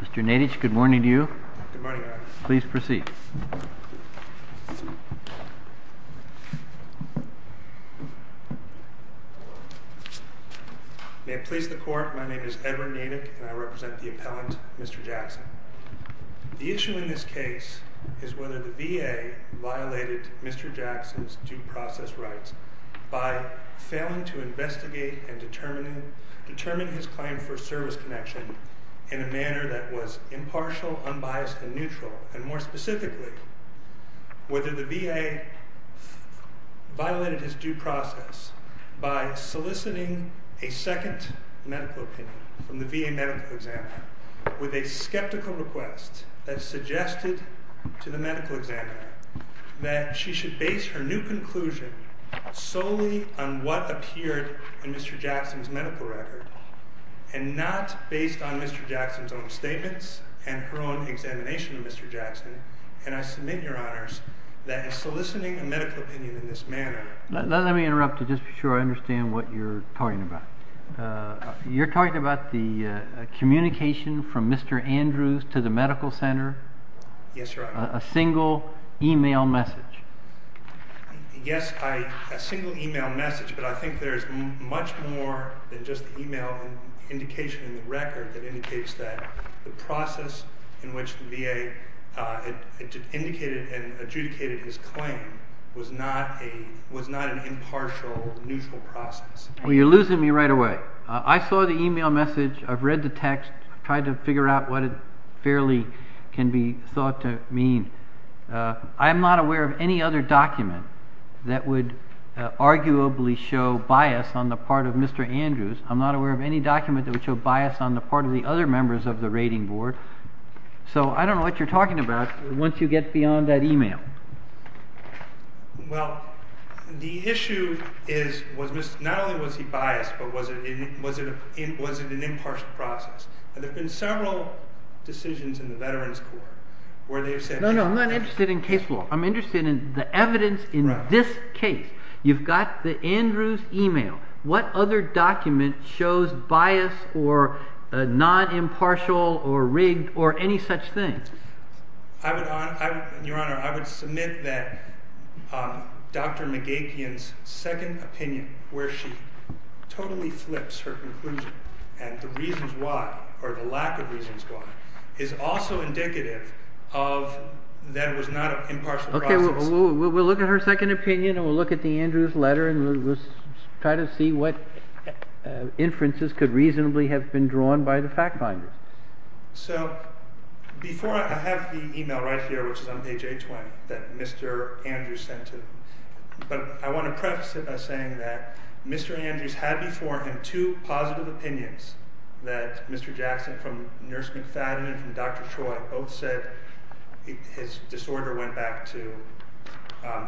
Mr. Nadich, good morning to you. Good morning, Adam. Please proceed. May it please the court, my name is Edward Nadich and I represent the appellant, Mr. Jackson. The issue in this case is whether the VA violated Mr. Jackson's due process rights by failing to investigate and determine his claim for service connection in a manner that was impartial, unbiased, and neutral. And more specifically, whether the VA violated his due process by soliciting a second medical opinion from the VA medical examiner with a skeptical request that suggested to the medical examiner that she should base her new conclusion solely on what appeared in Mr. Jackson's medical record and not based on Mr. Jackson's own statements and her own examination of Mr. Jackson. And I submit, Your Honors, that soliciting a medical opinion in this manner… Let me interrupt you just to be sure I understand what you're talking about. You're talking about the communication from Mr. Andrews to the medical center? Yes, Your Honor. A single email message? Yes, a single email message, but I think there's much more than just the email indication in the record that indicates that the process in which the VA indicated and adjudicated his claim was not an impartial, neutral process. You're losing me right away. I saw the email message. I've read the text. I've tried to figure out what it fairly can be thought to mean. I'm not aware of any other document that would arguably show bias on the part of Mr. Andrews. I'm not aware of any document that would show bias on the part of the other members of the rating board. So I don't know what you're talking about once you get beyond that email. Well, the issue is not only was he biased, but was it an impartial process? There have been several decisions in the Veterans Court where they've said… No, no. I'm not interested in case law. I'm interested in the evidence in this case. You've got the Andrews email. What other document shows bias or non-impartial or rigged or any such thing? Your Honor, I would submit that Dr. McGapian's second opinion where she totally flips her conclusion and the reasons why or the lack of reasons why is also indicative of that it was not an impartial process. OK. We'll look at her second opinion and we'll look at the Andrews letter and we'll try to see what inferences could reasonably have been drawn by the fact finders. So before I have the email right here, which is on page 820 that Mr. Andrews sent to me, but I want to preface it by saying that Mr. Andrews had before him two positive opinions that Mr. Jackson from Nurse McFadden and Dr. Troy both said his disorder went back to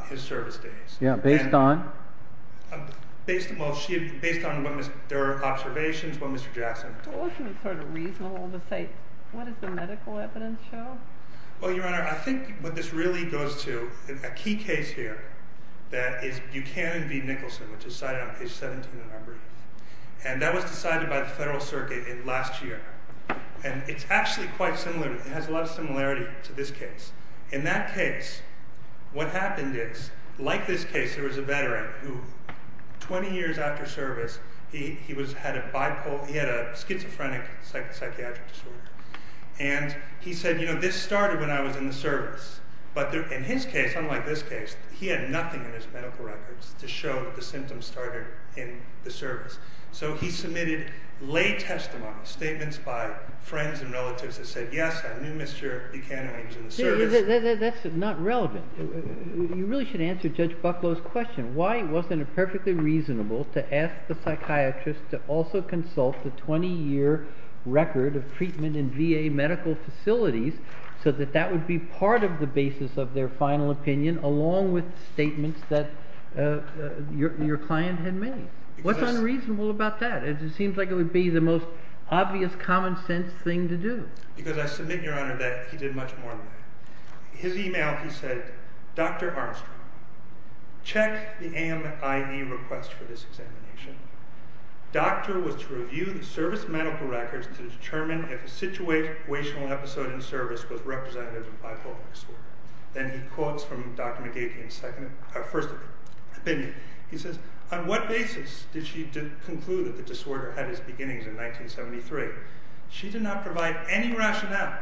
his service days. Yeah, based on? Based on their observations, what Mr. Jackson… Well, isn't it sort of reasonable to say what does the medical evidence show? Well, Your Honor, I think what this really goes to, a key case here that is Buchanan v. Nicholson, which is cited on page 17 in our brief, and that was decided by the Federal Circuit last year. And it's actually quite similar, it has a lot of similarity to this case. In that case, what happened is, like this case, there was a veteran who, 20 years after service, he had a schizophrenic psychiatric disorder. And he said, you know, this started when I was in the service. But in his case, unlike this case, he had nothing in his medical records to show that the symptoms started in the service. So he submitted lay testimony, statements by friends and relatives that said, yes, I knew Mr. Buchanan when he was in the service. That's not relevant. You really should answer Judge Bucklow's question. Why wasn't it perfectly reasonable to ask the psychiatrist to also consult the 20-year record of treatment in VA medical facilities so that that would be part of the basis of their final opinion, along with statements that your client had made? What's unreasonable about that? It seems like it would be the most obvious, common sense thing to do. Because I submit, Your Honor, that he did much more than that. His email, he said, Dr. Armstrong, check the AMIA request for this examination. Doctor was to review the service medical records to determine if a situational episode in service was representative of bipolar disorder. Then he quotes from Dr. McGeachy's first opinion. He says, on what basis did she conclude that the disorder had its beginnings in 1973? She did not provide any rationale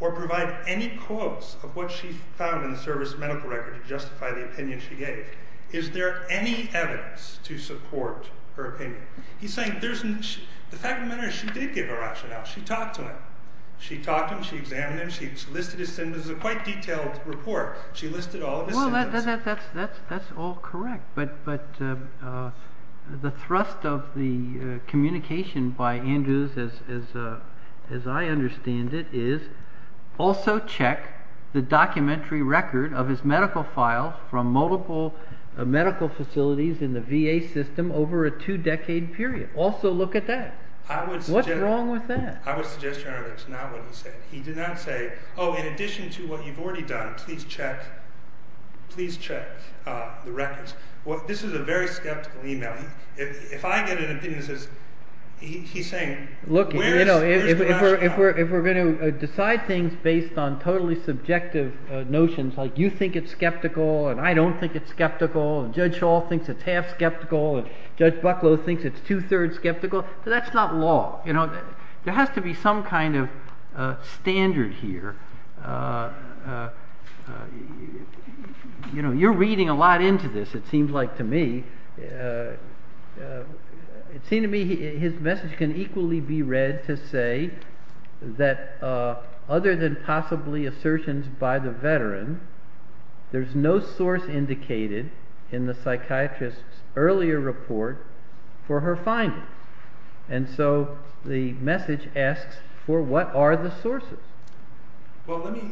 or provide any quotes of what she found in the service medical record to justify the opinion she gave. Is there any evidence to support her opinion? The fact of the matter is she did give a rationale. She talked to him. She examined him. She listed his symptoms. It was a quite detailed report. She listed all of his symptoms. Well, that's all correct. But the thrust of the communication by Andrews, as I understand it, is also check the documentary record of his medical file from multiple medical facilities in the VA system over a two-decade period. Also look at that. What's wrong with that? I would suggest, Your Honor, that's not what he said. He did not say, oh, in addition to what you've already done, please check the records. This is a very skeptical email. If I get an opinion that says – he's saying – Look, if we're going to decide things based on totally subjective notions like you think it's skeptical and I don't think it's skeptical and Judge Shaw thinks it's half skeptical and Judge Bucklow thinks it's two-thirds skeptical, that's not law. There has to be some kind of standard here. You're reading a lot into this, it seems like to me. It seems to me his message can equally be read to say that other than possibly assertions by the veteran, there's no source indicated in the psychiatrist's earlier report for her findings. And so the message asks for what are the sources.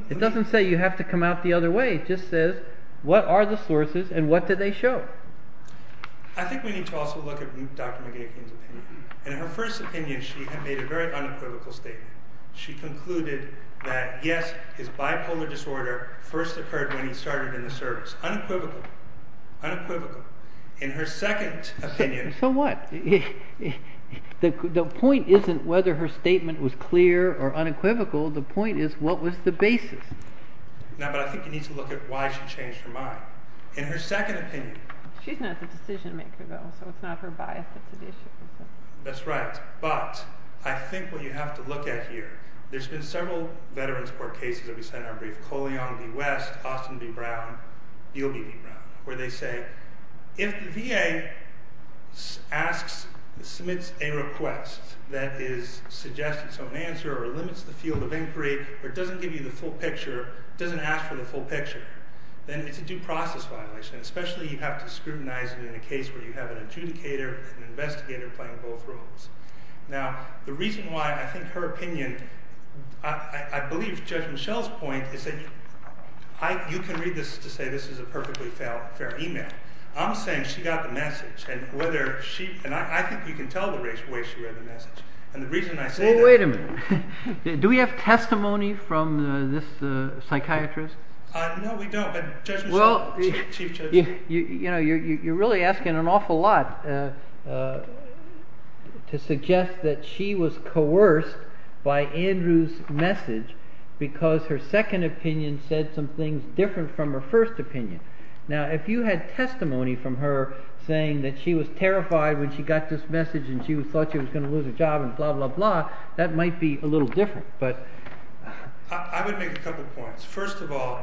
It doesn't say you have to come out the other way. It just says what are the sources and what did they show? I think we need to also look at Dr. McGeachin's opinion. In her first opinion she made a very unequivocal statement. She concluded that yes, his bipolar disorder first occurred when he started in the service. Unequivocal. In her second opinion. So what? The point isn't whether her statement was clear or unequivocal, the point is what was the basis. No, but I think you need to look at why she changed her mind. In her second opinion. She's not the decision maker though, so it's not her bias that's at issue. That's right, but I think what you have to look at here. There's been several veterans court cases that we've said in our brief. Coleon v. West, Austin v. Brown, Beale v. Brown. Where they say if the VA submits a request that suggests its own answer or limits the field of inquiry or doesn't give you the full picture, doesn't ask for the full picture, then it's a due process violation. Especially you have to scrutinize it in a case where you have an adjudicator and an investigator playing both roles. Now, the reason why I think her opinion, I believe Judge Mischel's point is that you can read this to say this is a perfectly fair email. I'm saying she got the message and whether she, and I think you can tell the way she read the message. And the reason I say that. Well, wait a minute. Do we have testimony from this psychiatrist? No, we don't, but Judge Mischel, Chief Judge. You're really asking an awful lot to suggest that she was coerced by Andrew's message because her second opinion said some things different from her first opinion. Now, if you had testimony from her saying that she was terrified when she got this message and she thought she was going to lose her job and blah, blah, blah, that might be a little different. I would make a couple points. First of all,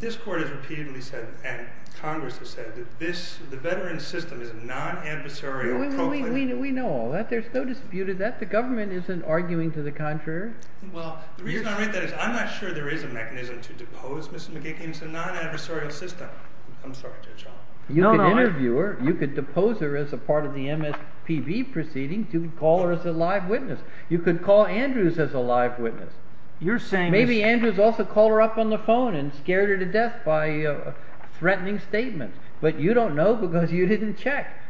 this court has repeatedly said and Congress has said that the veteran system is a non-adversarial proclivity. We know all that. There's no dispute of that. The government isn't arguing to the contrary. Well, the reason I read that is I'm not sure there is a mechanism to depose Mrs. McGuigan. It's a non-adversarial system. I'm sorry, Judge Holland. You could interview her. You could depose her as a part of the MSPB proceedings. You could call her as a live witness. You could call Andrews as a live witness. Maybe Andrews also called her up on the phone and scared her to death by threatening statements. But you don't know because you didn't check.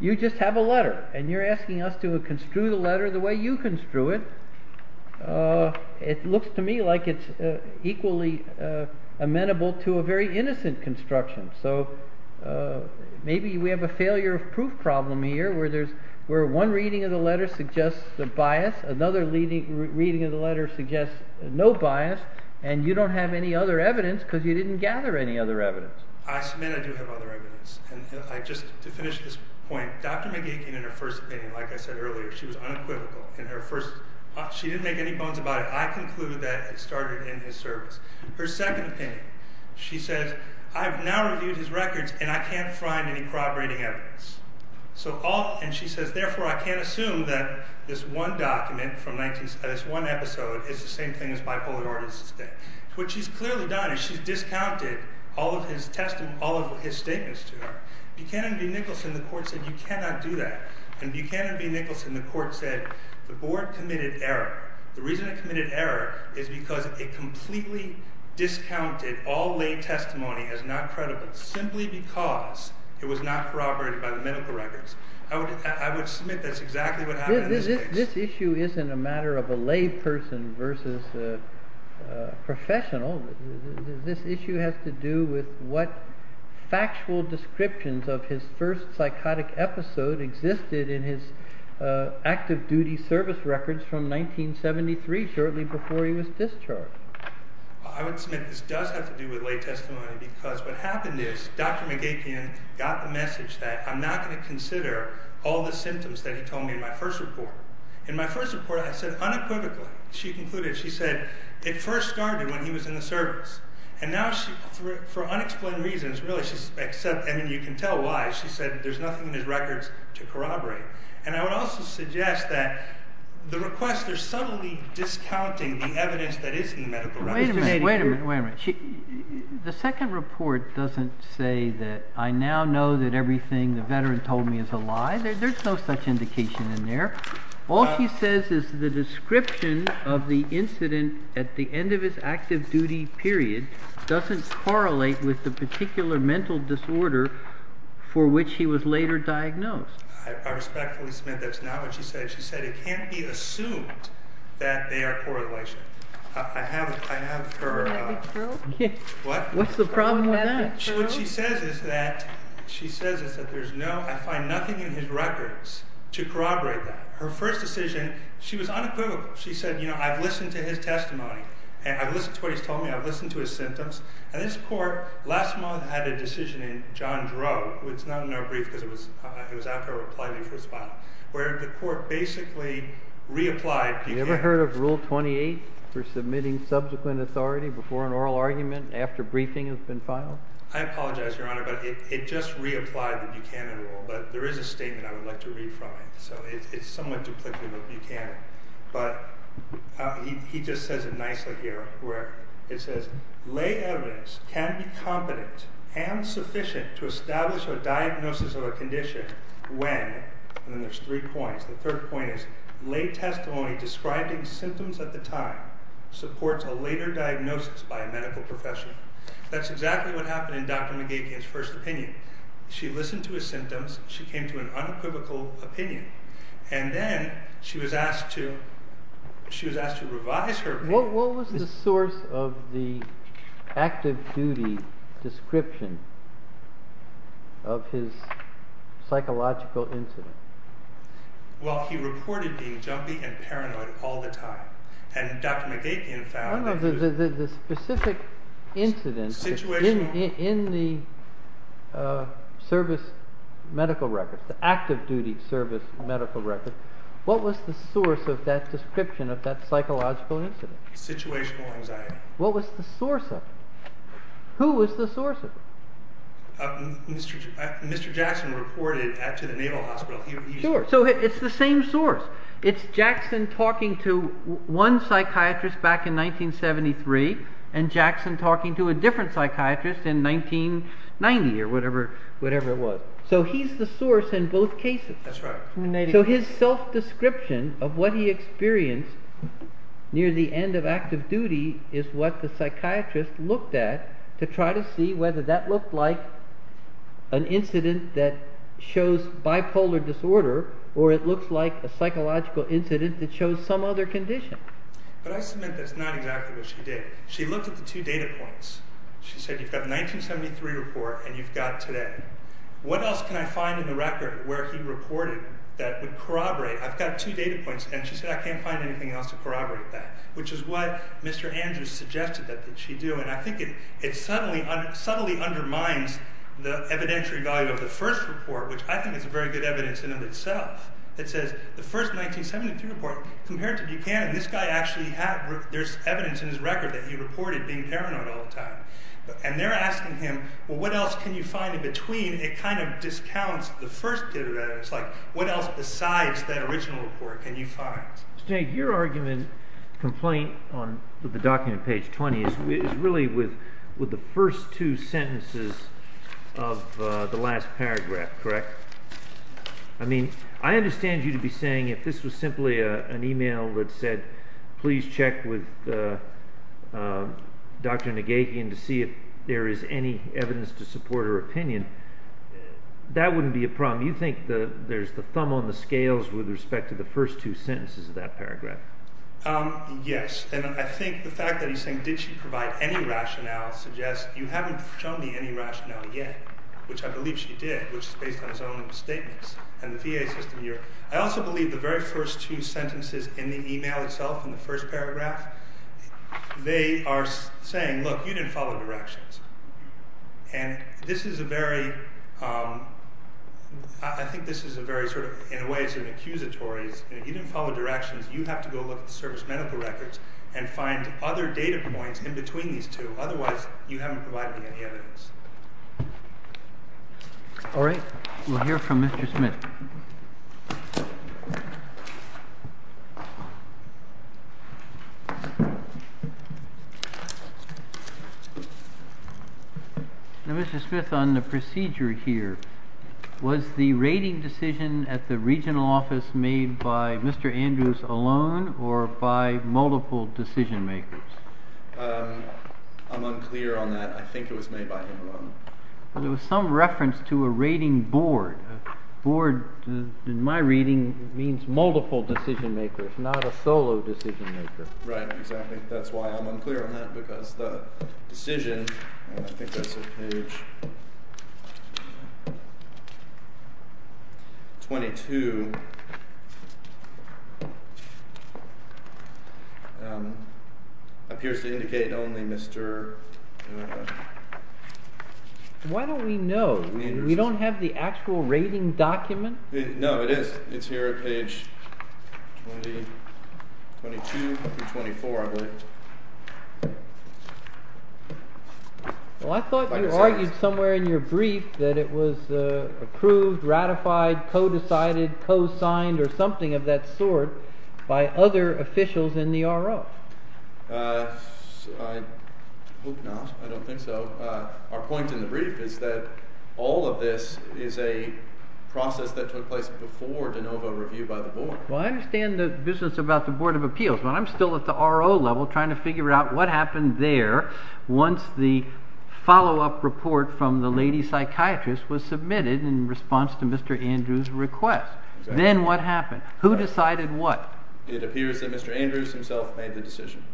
You just have a letter, and you're asking us to construe the letter the way you construe it. It looks to me like it's equally amenable to a very innocent construction. Maybe we have a failure of proof problem here where one reading of the letter suggests a bias. Another reading of the letter suggests no bias, and you don't have any other evidence because you didn't gather any other evidence. I submit I do have other evidence. Just to finish this point, Dr. McGuigan, in her first opinion, like I said earlier, she was unequivocal. She didn't make any bones about it. I conclude that it started in his service. Her second opinion, she says, I've now reviewed his records, and I can't find any corroborating evidence. And she says, therefore, I can't assume that this one document from this one episode is the same thing as bipolarity. What she's clearly done is she's discounted all of his statements to her. Buchanan v. Nicholson, the court said, you cannot do that. And Buchanan v. Nicholson, the court said, the board committed error. The reason it committed error is because it completely discounted all lay testimony as not credible simply because it was not corroborated by the medical records. I would submit that's exactly what happened in this case. This issue isn't a matter of a lay person versus a professional. This issue has to do with what factual descriptions of his first psychotic episode existed in his active duty service records from 1973, shortly before he was discharged. I would submit this does have to do with lay testimony because what happened is Dr. McGapien got the message that I'm not going to consider all the symptoms that he told me in my first report. In my first report, I said unequivocally, she concluded, she said, it first started when he was in the service. And now she, for unexplained reasons, really, she said, and you can tell why, she said, there's nothing in his records to corroborate. And I would also suggest that the request is subtly discounting the evidence that is in the medical records. Wait a minute, wait a minute, wait a minute. The second report doesn't say that I now know that everything the veteran told me is a lie. There's no such indication in there. All she says is the description of the incident at the end of his active duty period doesn't correlate with the particular mental disorder for which he was later diagnosed. I respectfully submit that's not what she said. She said it can't be assumed that they are correlated. I have her, what? What's the problem with that? What she says is that there's no, I find nothing in his records to corroborate that. Her first decision, she was unequivocal. She said, you know, I've listened to his testimony. And I've listened to what he's told me. I've listened to his symptoms. And this court last month had a decision in John Drow, which is not in our brief because it was after I replied to your first file, where the court basically reapplied Buchanan. You ever heard of Rule 28 for submitting subsequent authority before an oral argument after briefing has been filed? I apologize, Your Honor, but it just reapplied the Buchanan rule. But there is a statement I would like to read from it. So it's somewhat duplicative of Buchanan. But he just says it nicely here, where it says, Lay evidence can be competent and sufficient to establish a diagnosis of a condition when, and then there's three points. The third point is lay testimony describing symptoms at the time supports a later diagnosis by a medical professional. That's exactly what happened in Dr. McGeachy's first opinion. She listened to his symptoms. She came to an unequivocal opinion. And then she was asked to revise her opinion. What was the source of the active duty description of his psychological incident? Well, he reported being jumpy and paranoid all the time. The specific incident in the service medical records, the active duty service medical records, what was the source of that description of that psychological incident? Situational anxiety. What was the source of it? Who was the source of it? Mr. Jackson reported to the Naval Hospital. So it's the same source. It's Jackson talking to one psychiatrist back in 1973 and Jackson talking to a different psychiatrist in 1990 or whatever it was. So he's the source in both cases. That's right. So his self-description of what he experienced near the end of active duty is what the psychiatrist looked at to try to see whether that looked like an incident that shows bipolar disorder or it looks like a psychological incident that shows some other condition. But I submit that's not exactly what she did. She looked at the two data points. She said you've got the 1973 report and you've got today. What else can I find in the record where he reported that would corroborate? I've got two data points and she said I can't find anything else to corroborate that, which is what Mr. Andrews suggested that she do. And I think it subtly undermines the evidentiary value of the first report, which I think is a very good evidence in and of itself. It says the first 1973 report compared to Buchanan, this guy actually had evidence in his record that he reported being paranoid all the time. And they're asking him, well, what else can you find in between? It kind of discounts the first data. It's like what else besides that original report can you find? Your argument complaint on the document page 20 is really with the first two sentences of the last paragraph, correct? I mean, I understand you to be saying if this was simply an e-mail that said, please check with Dr. Nagevian to see if there is any evidence to support her opinion. That wouldn't be a problem. You think there's the thumb on the scales with respect to the first two sentences of that paragraph? Yes. And I think the fact that he's saying did she provide any rationale suggests you haven't shown me any rationale yet, which I believe she did, which is based on his own statements and the VA system here. I also believe the very first two sentences in the e-mail itself in the first paragraph, they are saying, look, you didn't follow directions. And this is a very, I think this is a very sort of, in a way, it's an accusatory. You didn't follow directions. You have to go look at the service medical records and find other data points in between these two. Otherwise, you haven't provided me any evidence. All right. We'll hear from Mr. Smith. Now, Mr. Smith, on the procedure here, was the rating decision at the regional office made by Mr. Andrews alone or by multiple decision makers? I'm unclear on that. I think it was made by him alone. There was some reference to a rating board. Board, in my reading, means multiple decision makers, not a solo decision maker. Right, exactly. I think that's why I'm unclear on that, because the decision, I think that's at page 22, appears to indicate only Mr. Why don't we know? We don't have the actual rating document? No, it is. It's here at page 22 through 24, I believe. Well, I thought you argued somewhere in your brief that it was approved, ratified, co-decided, co-signed, or something of that sort by other officials in the RO. I hope not. I don't think so. Our point in the brief is that all of this is a process that took place before de novo review by the board. Well, I understand the business about the Board of Appeals, but I'm still at the RO level trying to figure out what happened there once the follow-up report from the lady psychiatrist was submitted in response to Mr. Andrews' request. Then what happened? Who decided what? It appears that Mr. Andrews himself made the decision.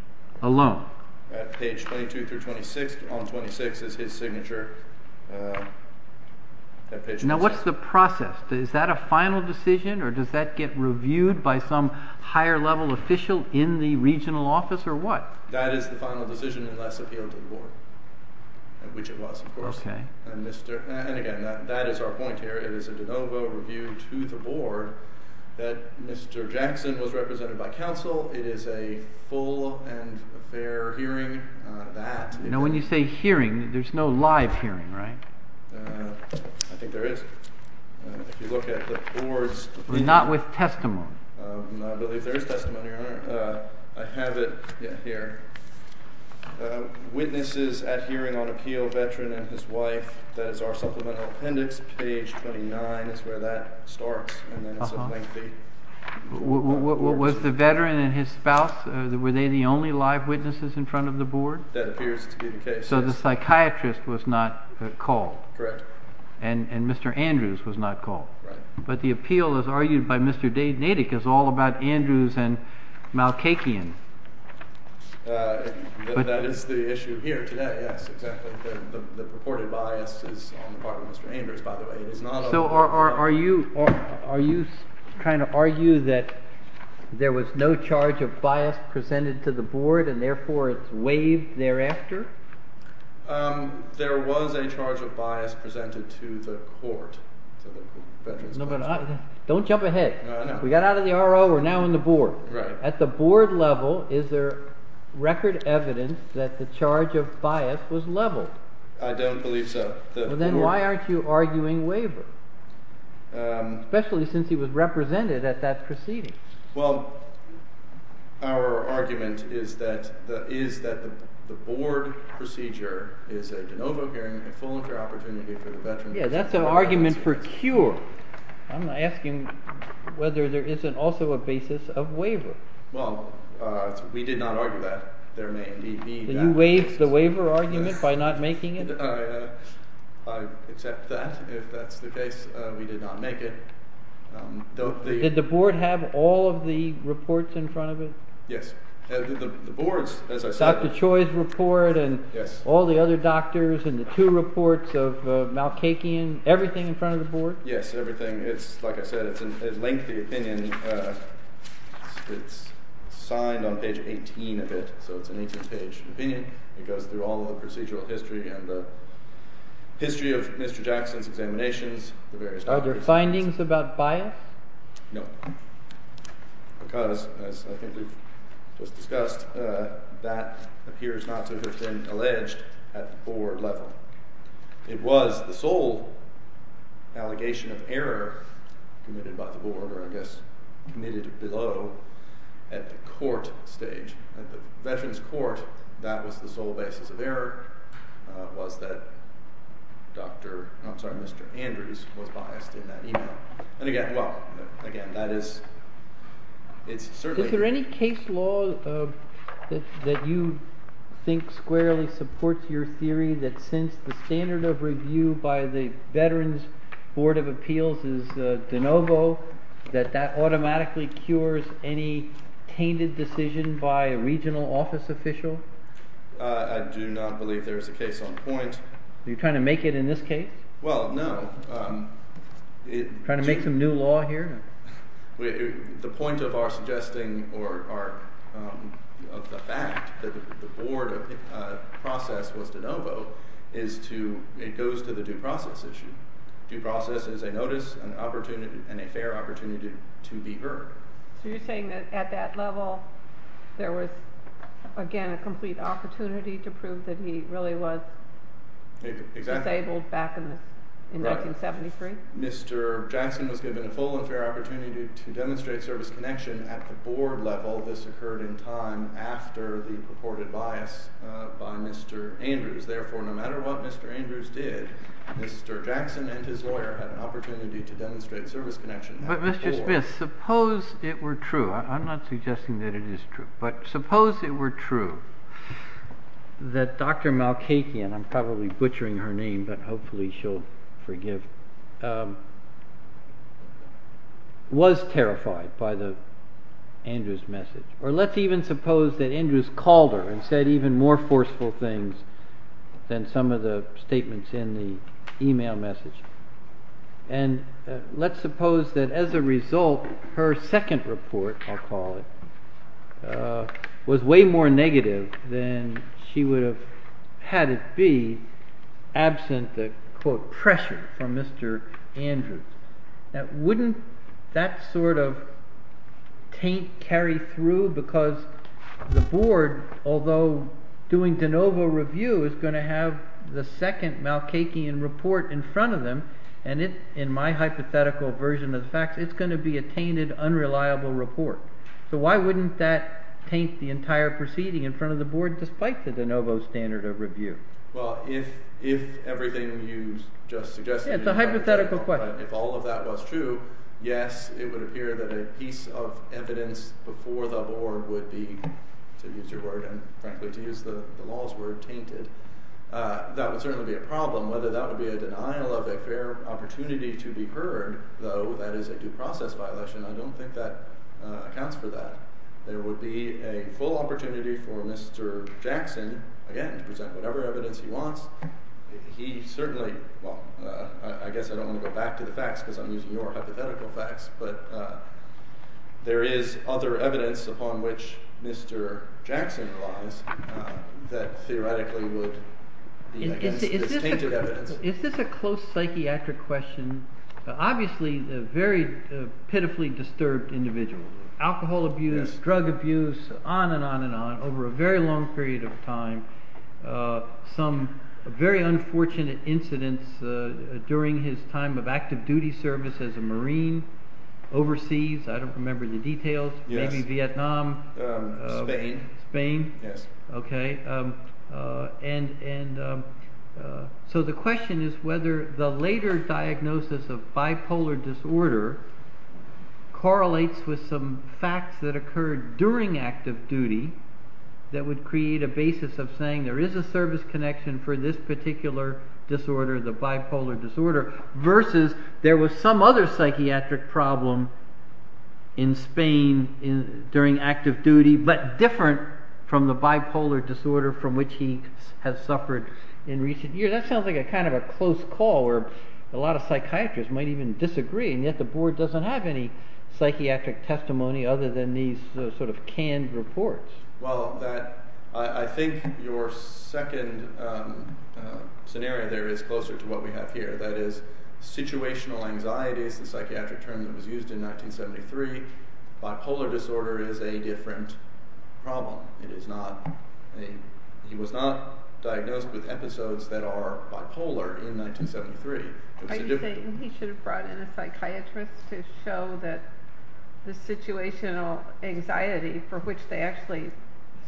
Alone? At page 22 through 26, on 26 is his signature. Now, what's the process? Is that a final decision, or does that get reviewed by some higher-level official in the regional office, or what? That is the final decision unless appealed to the board, which it was, of course. And, again, that is our point here. It is a de novo review to the board that Mr. Jackson was represented by counsel. It is a full and fair hearing. Now, when you say hearing, there's no live hearing, right? I think there is. If you look at the board's opinion. Not with testimony. I believe there is testimony, Your Honor. I have it here. Witnesses at hearing on appeal, veteran and his wife. That is our supplemental appendix. Page 29 is where that starts. Was the veteran and his spouse, were they the only live witnesses in front of the board? That appears to be the case. So the psychiatrist was not called. Correct. And Mr. Andrews was not called. Right. But the appeal, as argued by Mr. Nadick, is all about Andrews and Malkakian. That is the issue here today, yes, exactly. The purported bias is on the part of Mr. Andrews, by the way. So are you trying to argue that there was no charge of bias presented to the board and, therefore, it's waived thereafter? There was a charge of bias presented to the court. Don't jump ahead. We got out of the RO. We're now on the board. At the board level, is there record evidence that the charge of bias was leveled? I don't believe so. Well, then why aren't you arguing waiver, especially since he was represented at that proceeding? Well, our argument is that the board procedure is a de novo hearing, a full inter-opportunity for the veteran. Yeah, that's an argument for cure. I'm asking whether there is also a basis of waiver. Well, we did not argue that. Did you waive the waiver argument by not making it? I accept that. If that's the case, we did not make it. Did the board have all of the reports in front of it? Yes. The board's, as I said. Dr. Choi's report and all the other doctors and the two reports of Malkakian, everything in front of the board? Yes, everything. It's, like I said, it's a lengthy opinion. It's signed on page 18 of it, so it's an 18-page opinion. It goes through all the procedural history and the history of Mr. Jackson's examinations. Are there findings about bias? No, because, as I think we've just discussed, that appears not to have been alleged at the board level. It was the sole allegation of error committed by the board, or I guess committed below, at the court stage. At the Veterans Court, that was the sole basis of error, was that Dr. – I'm sorry, Mr. Andrews was biased in that email. And again, well, again, that is – it's certainly – that you think squarely supports your theory that since the standard of review by the Veterans Board of Appeals is de novo, that that automatically cures any tainted decision by a regional office official? I do not believe there is a case on point. Are you trying to make it in this case? Well, no. Trying to make some new law here? The point of our suggesting or of the fact that the board process was de novo is to – it goes to the due process issue. Due process is a notice, an opportunity, and a fair opportunity to be heard. So you're saying that at that level, there was, again, a complete opportunity to prove that he really was disabled back in 1973? Mr. Jackson was given a full and fair opportunity to demonstrate service connection at the board level. This occurred in time after the purported bias by Mr. Andrews. Therefore, no matter what Mr. Andrews did, Mr. Jackson and his lawyer had an opportunity to demonstrate service connection at the board. But, Mr. Smith, suppose it were true – I'm not suggesting that it is true – but suppose it were true that Dr. Malkakian – I'm probably butchering her name, but hopefully she'll forgive – was terrified by the Andrews message. Or let's even suppose that Andrews called her and said even more forceful things than some of the statements in the email message. And let's suppose that as a result, her second report, I'll call it, was way more negative than she would have had it be absent the, quote, pressure from Mr. Andrews. Wouldn't that sort of taint carry through? Because the board, although doing de novo review, is going to have the second Malkakian report in front of them. And in my hypothetical version of the facts, it's going to be a tainted, unreliable report. So why wouldn't that taint the entire proceeding in front of the board despite the de novo standard of review? Well, if everything you just suggested – Yeah, it's a hypothetical question. If all of that was true, yes, it would appear that a piece of evidence before the board would be, to use your word and frankly to use the law's word, tainted. That would certainly be a problem. Whether that would be a denial of a fair opportunity to be heard, though that is a due process violation, I don't think that accounts for that. There would be a full opportunity for Mr. Jackson, again, to present whatever evidence he wants. He certainly – well, I guess I don't want to go back to the facts because I'm using your hypothetical facts, but there is other evidence upon which Mr. Jackson relies that theoretically would be against this tainted evidence. So is this a close psychiatric question? Obviously a very pitifully disturbed individual. Alcohol abuse, drug abuse, on and on and on over a very long period of time. Some very unfortunate incidents during his time of active duty service as a marine overseas. I don't remember the details. Maybe Vietnam. Spain. Spain. Yes. So the question is whether the later diagnosis of bipolar disorder correlates with some facts that occurred during active duty that would create a basis of saying there is a service connection for this particular disorder, the bipolar disorder, versus there was some other psychiatric problem in Spain during active duty, but different from the bipolar disorder from which he has suffered in recent years. That sounds like kind of a close call where a lot of psychiatrists might even disagree, and yet the board doesn't have any psychiatric testimony other than these sort of canned reports. Well, I think your second scenario there is closer to what we have here. That is situational anxiety is the psychiatric term that was used in 1973. Bipolar disorder is a different problem. It is not a – he was not diagnosed with episodes that are bipolar in 1973. Are you saying he should have brought in a psychiatrist to show that the situational anxiety for which they actually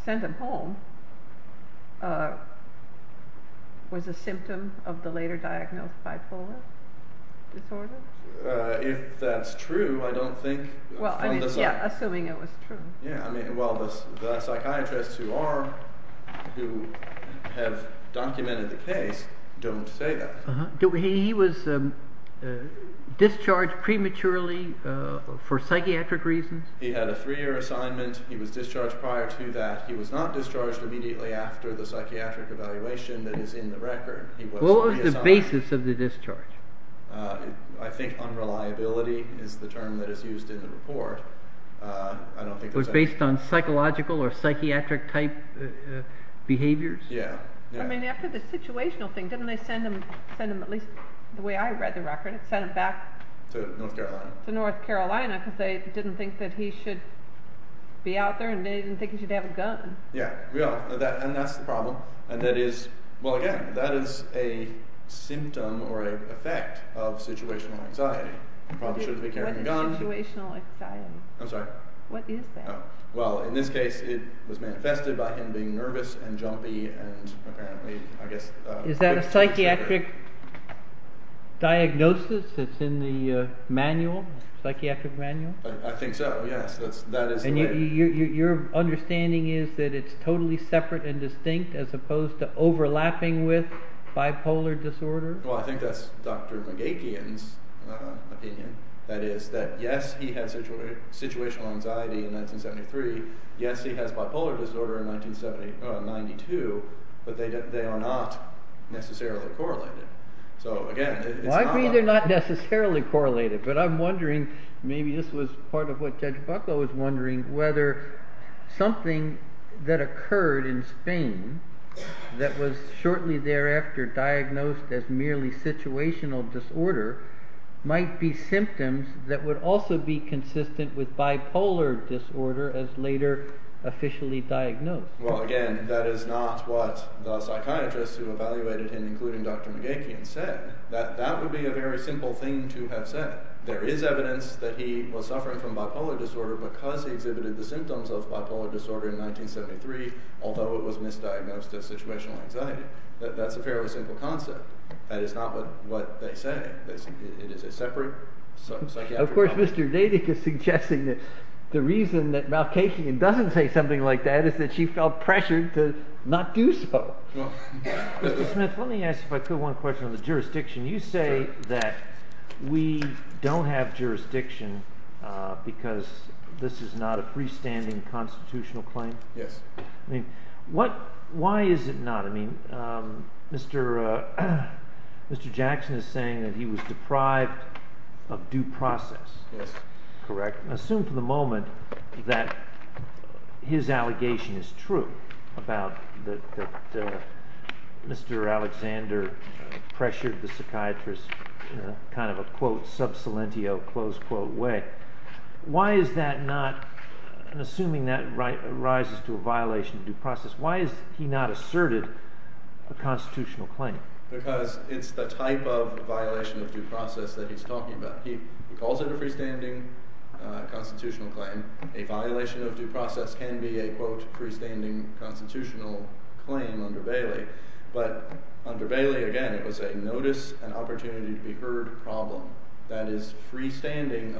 sent him home was a symptom of the later diagnosed bipolar disorder? If that is true, I don't think – Well, assuming it was true. Well, the psychiatrists who are – who have documented the case don't say that. He was discharged prematurely for psychiatric reasons? He had a three-year assignment. He was discharged prior to that. He was not discharged immediately after the psychiatric evaluation that is in the record. He was – What was the basis of the discharge? I think unreliability is the term that is used in the report. I don't think – It was based on psychological or psychiatric type behaviors? Yeah. I mean, after the situational thing, didn't they send him – send him, at least the way I read the record, send him back? To North Carolina. To North Carolina because they didn't think that he should be out there and they didn't think he should have a gun. Yeah, we all – and that's the problem, and that is – well, again, that is a symptom or an effect of situational anxiety. He probably shouldn't be carrying a gun. What is situational anxiety? I'm sorry? What is that? Well, in this case, it was manifested by him being nervous and jumpy and apparently, I guess – Is that a psychiatric diagnosis that's in the manual, psychiatric manual? I think so, yes. That is – And your understanding is that it's totally separate and distinct as opposed to overlapping with bipolar disorder? Well, I think that's Dr. McGakian's opinion. That is that, yes, he had situational anxiety in 1973. Yes, he has bipolar disorder in 1992, but they are not necessarily correlated. So, again, it's not like – Well, I agree they're not necessarily correlated, but I'm wondering – maybe this was part of what Judge Bucklow was wondering – that something that occurred in Spain that was shortly thereafter diagnosed as merely situational disorder might be symptoms that would also be consistent with bipolar disorder as later officially diagnosed. Well, again, that is not what the psychiatrist who evaluated him, including Dr. McGakian, said. That would be a very simple thing to have said. That there is evidence that he was suffering from bipolar disorder because he exhibited the symptoms of bipolar disorder in 1973, although it was misdiagnosed as situational anxiety. That's a fairly simple concept. That is not what they say. It is a separate psychiatric problem. Of course, Mr. Nadick is suggesting that the reason that Malkatian doesn't say something like that is that she felt pressured to not do so. Mr. Smith, let me ask if I could one question on the jurisdiction. You say that we don't have jurisdiction because this is not a freestanding constitutional claim. Yes. I mean, why is it not? I mean, Mr. Jackson is saying that he was deprived of due process. Yes. Correct. Assume for the moment that his allegation is true about that Mr. Alexander pressured the psychiatrist in kind of a, quote, sub salientio, close quote way. Why is that not? Assuming that arises to a violation of due process, why has he not asserted a constitutional claim? Because it's the type of violation of due process that he's talking about. He calls it a freestanding constitutional claim. A violation of due process can be a, quote, freestanding constitutional claim under Bailey. But under Bailey, again, it was a notice and opportunity to be heard problem. And it isn't a freestanding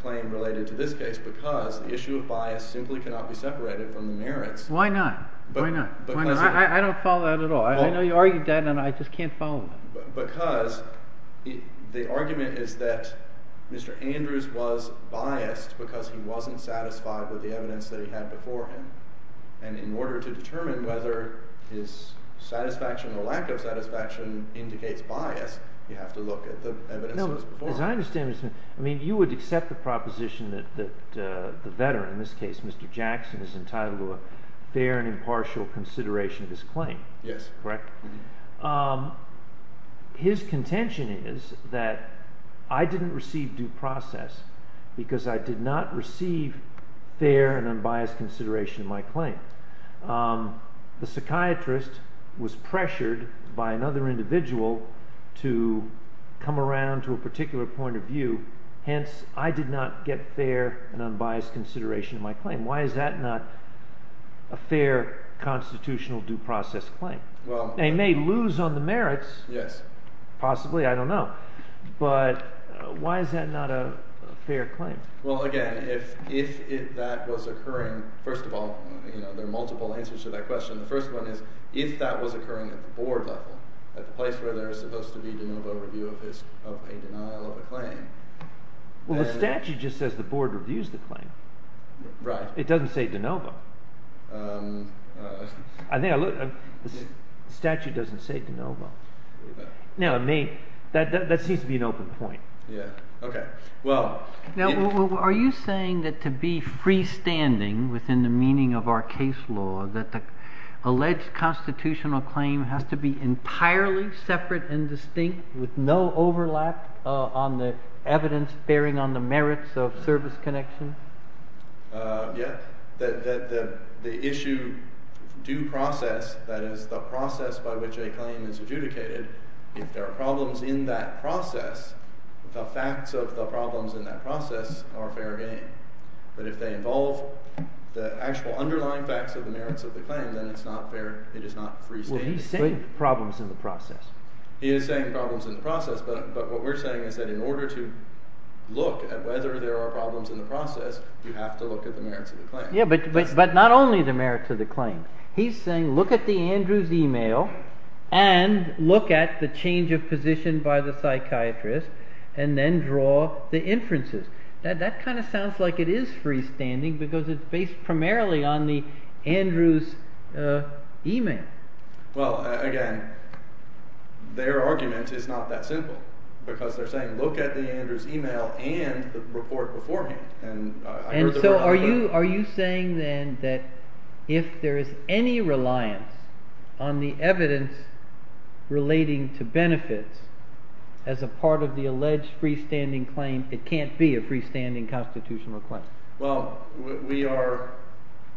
claim related to this case because the issue of bias simply cannot be separated from the merits. Why not? Why not? I don't follow that at all. I know you argued that, and I just can't follow it. Because the argument is that Mr. Andrews was biased because he wasn't satisfied with the evidence that he had before him. And in order to determine whether his satisfaction or lack of satisfaction indicates bias, you have to look at the evidence that was before him. As I understand it, you would accept the proposition that the veteran, in this case Mr. Jackson, is entitled to a fair and impartial consideration of his claim. Yes. Correct? His contention is that I didn't receive due process because I did not receive fair and unbiased consideration of my claim. The psychiatrist was pressured by another individual to come around to a particular point of view. Hence, I did not get fair and unbiased consideration of my claim. Why is that not a fair constitutional due process claim? They may lose on the merits. Yes. Possibly. I don't know. But why is that not a fair claim? Well, again, if that was occurring – first of all, there are multiple answers to that question. The first one is if that was occurring at the board level, at the place where there is supposed to be de novo review of a denial of a claim. Well, the statute just says the board reviews the claim. Right. It doesn't say de novo. The statute doesn't say de novo. No, it may. That seems to be an open point. Yeah. Okay. Well – Now, are you saying that to be freestanding within the meaning of our case law, that the alleged constitutional claim has to be entirely separate and distinct with no overlap on the evidence bearing on the merits of service connection? Yeah. That the issue due process, that is, the process by which a claim is adjudicated, if there are problems in that process, the facts of the problems in that process are fair game. But if they involve the actual underlying facts of the merits of the claim, then it's not fair – it is not freestanding. Well, he's saying problems in the process. He is saying problems in the process, but what we're saying is that in order to look at whether there are problems in the process, you have to look at the merits of the claim. Yeah, but not only the merits of the claim. He's saying look at the Andrews email and look at the change of position by the psychiatrist and then draw the inferences. That kind of sounds like it is freestanding because it's based primarily on the Andrews email. Well, again, their argument is not that simple because they're saying look at the Andrews email and the report beforehand. And so are you saying then that if there is any reliance on the evidence relating to benefits as a part of the alleged freestanding claim, it can't be a freestanding constitutional claim? Well, we are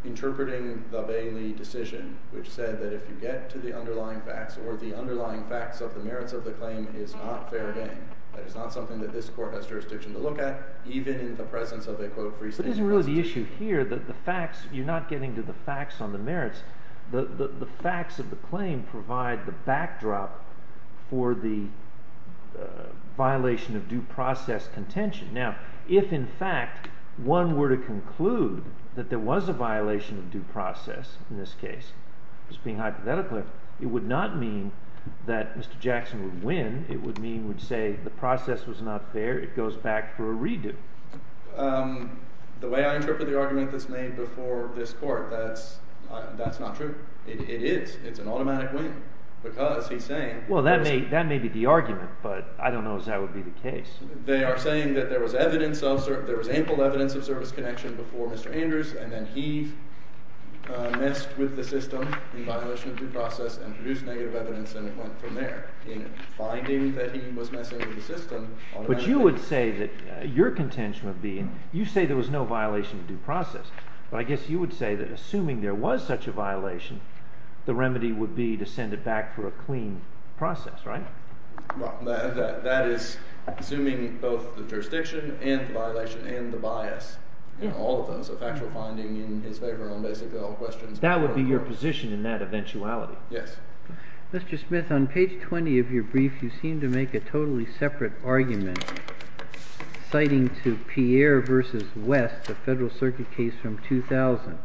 interpreting the Bainley decision, which said that if you get to the underlying facts or the underlying facts of the merits of the claim, it is not fair game. That is not something that this Court has jurisdiction to look at, even in the presence of a, quote, freestanding constitutional claim. But isn't really the issue here that the facts – you're not getting to the facts on the merits. The facts of the claim provide the backdrop for the violation of due process contention. Now, if in fact one were to conclude that there was a violation of due process in this case, just being hypothetically, it would not mean that Mr. Jackson would win. It would mean – would say the process was not fair. It goes back for a redo. The way I interpret the argument that's made before this Court, that's not true. It is. It's an automatic win because he's saying – Well, that may be the argument, but I don't know as that would be the case. They are saying that there was evidence of – there was ample evidence of service connection before Mr. Andrews, and then he messed with the system in violation of due process and produced negative evidence, and it went from there. In finding that he was messing with the system – But you would say that your contention would be – you say there was no violation of due process. But I guess you would say that assuming there was such a violation, the remedy would be to send it back for a clean process, right? That is assuming both the jurisdiction and the violation and the bias, all of those, a factual finding in his favor on basically all questions. That would be your position in that eventuality? Yes. Mr. Smith, on page 20 of your brief, you seem to make a totally separate argument citing to Pierre v. West, the Federal Circuit case from 2000.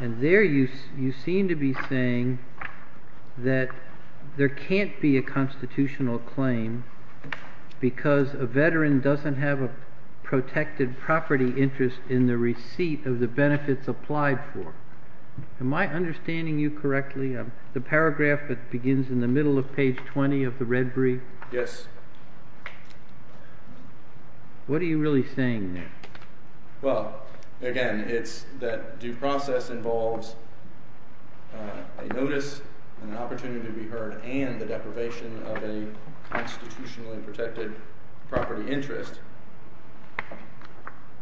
And there you seem to be saying that there can't be a constitutional claim because a veteran doesn't have a protected property interest in the receipt of the benefits applied for. Am I understanding you correctly? The paragraph that begins in the middle of page 20 of the red brief? Yes. What are you really saying there? Well, again, it's that due process involves a notice and an opportunity to be heard and the deprivation of a constitutionally protected property interest.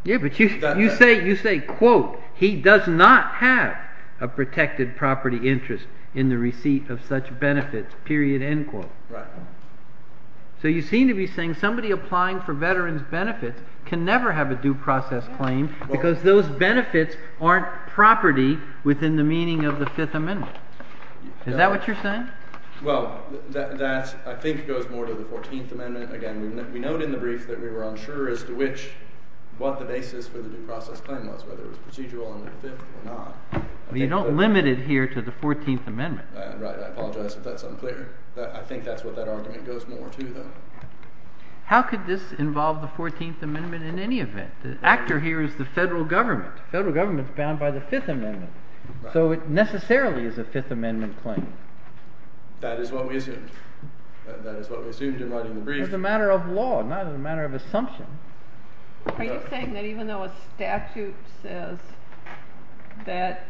Yeah, but you say, quote, he does not have a protected property interest in the receipt of such benefits, period, end quote. Right. So you seem to be saying somebody applying for veterans' benefits can never have a due process claim because those benefits aren't property within the meaning of the Fifth Amendment. Is that what you're saying? Well, that, I think, goes more to the Fourteenth Amendment. Again, we note in the brief that we were unsure as to what the basis for the due process claim was, whether it was procedural under the Fifth or not. But you don't limit it here to the Fourteenth Amendment. Right. I apologize if that's unclear. I think that's what that argument goes more to, though. How could this involve the Fourteenth Amendment in any event? The actor here is the federal government. The federal government is bound by the Fifth Amendment. Right. So it necessarily is a Fifth Amendment claim. That is what we assumed. That is what we assumed in writing the brief. It's a matter of law, not a matter of assumption. Are you saying that even though a statute says that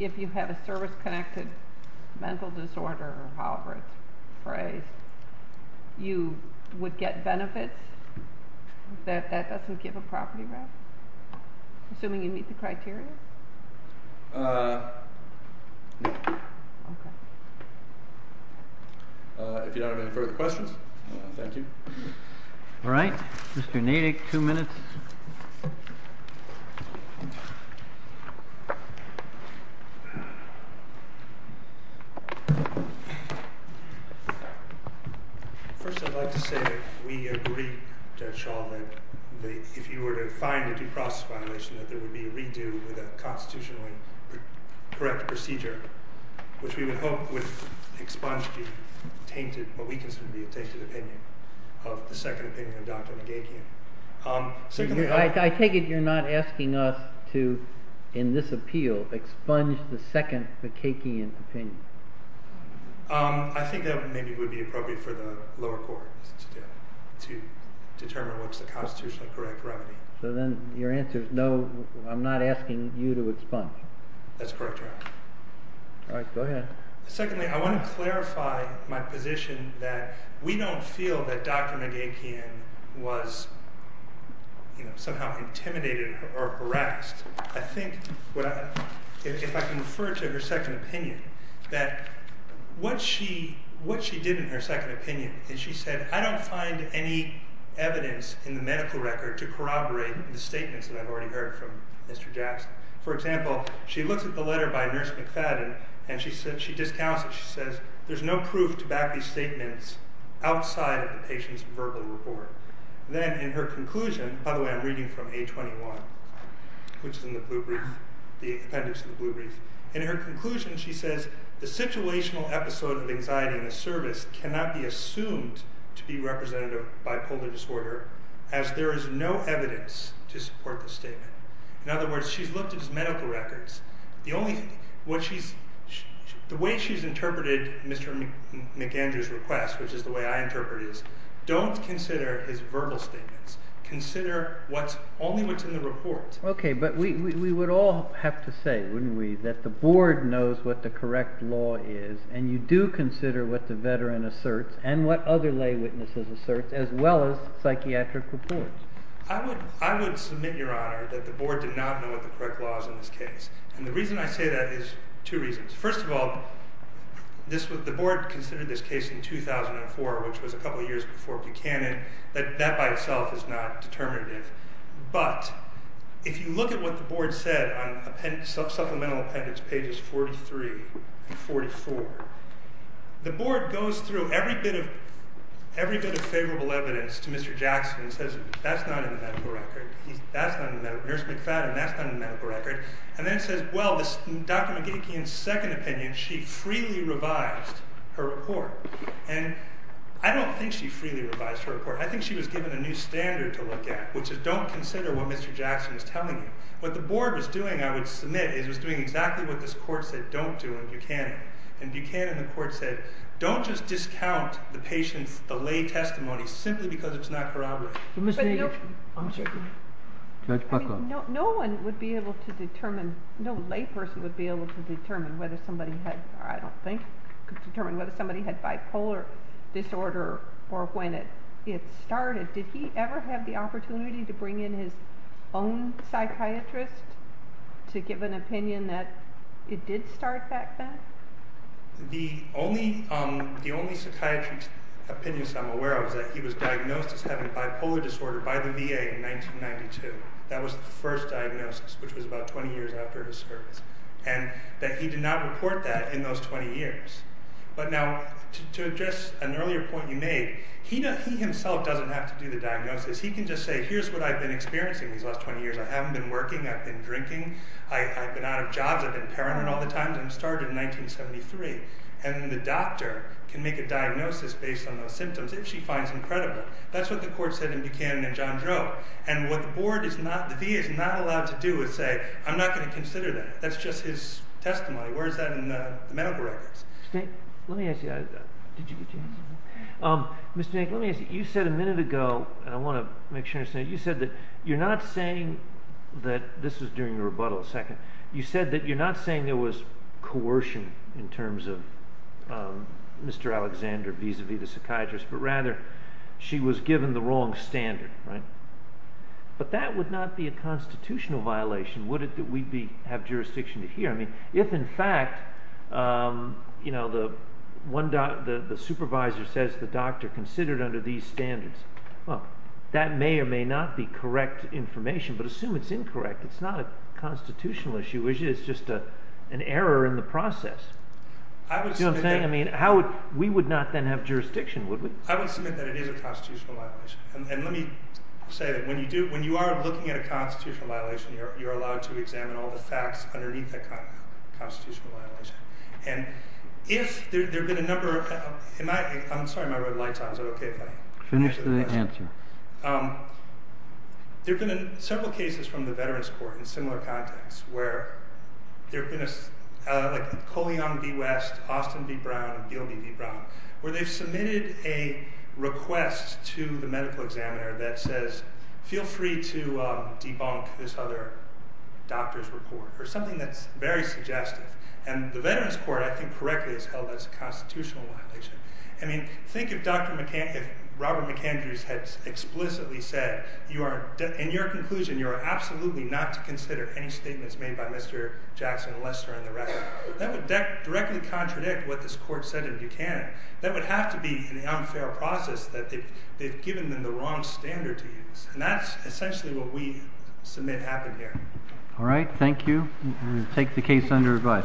if you have a service-connected mental disorder, or however it's phrased, you would get benefits, that that doesn't give a property right? Assuming you meet the criteria? No. Okay. If you don't have any further questions, thank you. All right. Mr. Nadek, two minutes. First, I'd like to say that we agree, Judge Schall, that if you were to find a due process violation, that there would be a redo with a constitutionally correct procedure, which we would hope would expunge the tainted, what we consider to be a tainted opinion, of the second opinion of Dr. Nadekian. I take it you're not asking us to, in this appeal, expunge the second Nadekian opinion. I think that maybe it would be appropriate for the lower court to determine what's the constitutionally correct remedy. So then your answer is no, I'm not asking you to expunge. That's correct, Your Honor. All right, go ahead. Secondly, I want to clarify my position that we don't feel that Dr. Nadekian was somehow intimidated or harassed. I think, if I can refer to her second opinion, that what she did in her second opinion is she said, I don't find any evidence in the medical record to corroborate the statements that I've already heard from Mr. Jackson. For example, she looks at the letter by Nurse McFadden, and she discounts it. She says, there's no proof to back these statements outside of the patient's verbal report. Then, in her conclusion, by the way, I'm reading from A21, which is in the blue brief, the appendix in the blue brief. In her conclusion, she says, the situational episode of anxiety in the service cannot be assumed to be representative of bipolar disorder, as there is no evidence to support the statement. In other words, she's looked at his medical records. The way she's interpreted Mr. McAndrew's request, which is the way I interpret it, is don't consider his verbal statements. Consider only what's in the report. OK, but we would all have to say, wouldn't we, that the board knows what the correct law is, and you do consider what the veteran asserts, and what other lay witnesses assert, as well as psychiatric reports. I would submit, Your Honor, that the board did not know what the correct law is in this case. And the reason I say that is two reasons. First of all, the board considered this case in 2004, which was a couple of years before Buchanan, that that by itself is not determinative. But if you look at what the board said on supplemental appendix pages 43 and 44, the board goes through every bit of favorable evidence to Mr. Jackson and says, that's not in the medical record. That's not in the medical record. Nurse McFadden, that's not in the medical record. And then says, well, Dr. McGeachy, in second opinion, she freely revised her report. And I don't think she freely revised her report. I think she was given a new standard to look at, which is don't consider what Mr. Jackson is telling you. What the board was doing, I would submit, is it was doing exactly what this court said don't do in Buchanan. In Buchanan, the court said, don't just discount the patient's, the lay testimony, simply because it's not corroborated. But no one would be able to determine, no lay person would be able to determine whether somebody had, I don't think could determine whether somebody had bipolar disorder or when it started. Did he ever have the opportunity to bring in his own psychiatrist to give an opinion that it did start back then? The only psychiatrist's opinions I'm aware of is that he was diagnosed as having bipolar disorder by the VA in 1992. That was the first diagnosis, which was about 20 years after his service. And that he did not report that in those 20 years. But now, to address an earlier point you made, he himself doesn't have to do the diagnosis. He can just say, here's what I've been experiencing these last 20 years. I haven't been working. I've been drinking. I've been out of jobs. I've been paranoid all the time. And started in 1973. And the doctor can make a diagnosis based on those symptoms, if she finds them credible. That's what the court said in Buchanan and John Droe. And what the board is not, the VA is not allowed to do is say, I'm not going to consider that. That's just his testimony. Where is that in the medical records? Let me ask you. Did you get your answer? Mr. Hank, let me ask you. You said a minute ago, and I want to make sure you understand. You said that you're not saying that, this was during the rebuttal, a second. You said that you're not saying there was coercion in terms of Mr. Alexander, vis-a-vis the psychiatrist. But rather, she was given the wrong standard. But that would not be a constitutional violation, would it? That we'd have jurisdiction to hear. I mean, if in fact, you know, the supervisor says the doctor considered under these standards. Well, that may or may not be correct information. But assume it's incorrect. It's not a constitutional issue. It's just an error in the process. Do you know what I'm saying? I mean, how would, we would not then have jurisdiction, would we? I would submit that it is a constitutional violation. And let me say that when you do, when you are looking at a constitutional violation, you're allowed to examine all the facts underneath that constitutional violation. And if there have been a number of, am I, I'm sorry my red light's on. Is that okay if I finish the question? Finish the answer. There have been several cases from the Veterans Court in similar contexts where there have been a, like Cole Young v. West, Austin v. Brown, and Beale v. Brown, where they've submitted a request to the medical examiner that says, feel free to debunk this other doctor's report. Or something that's very suggestive. And the Veterans Court, I think correctly, has held that it's a constitutional violation. I mean, think if Dr. McAndrews, if Robert McAndrews had explicitly said, you are, in your conclusion, you are absolutely not to consider any statements made by Mr. Jackson, Lester, and the rest. That would directly contradict what this court said in Buchanan. That would have to be an unfair process that they've given them the wrong standard to use. And that's essentially what we submit happened here. All right. Thank you. Thank you. Take the case under review.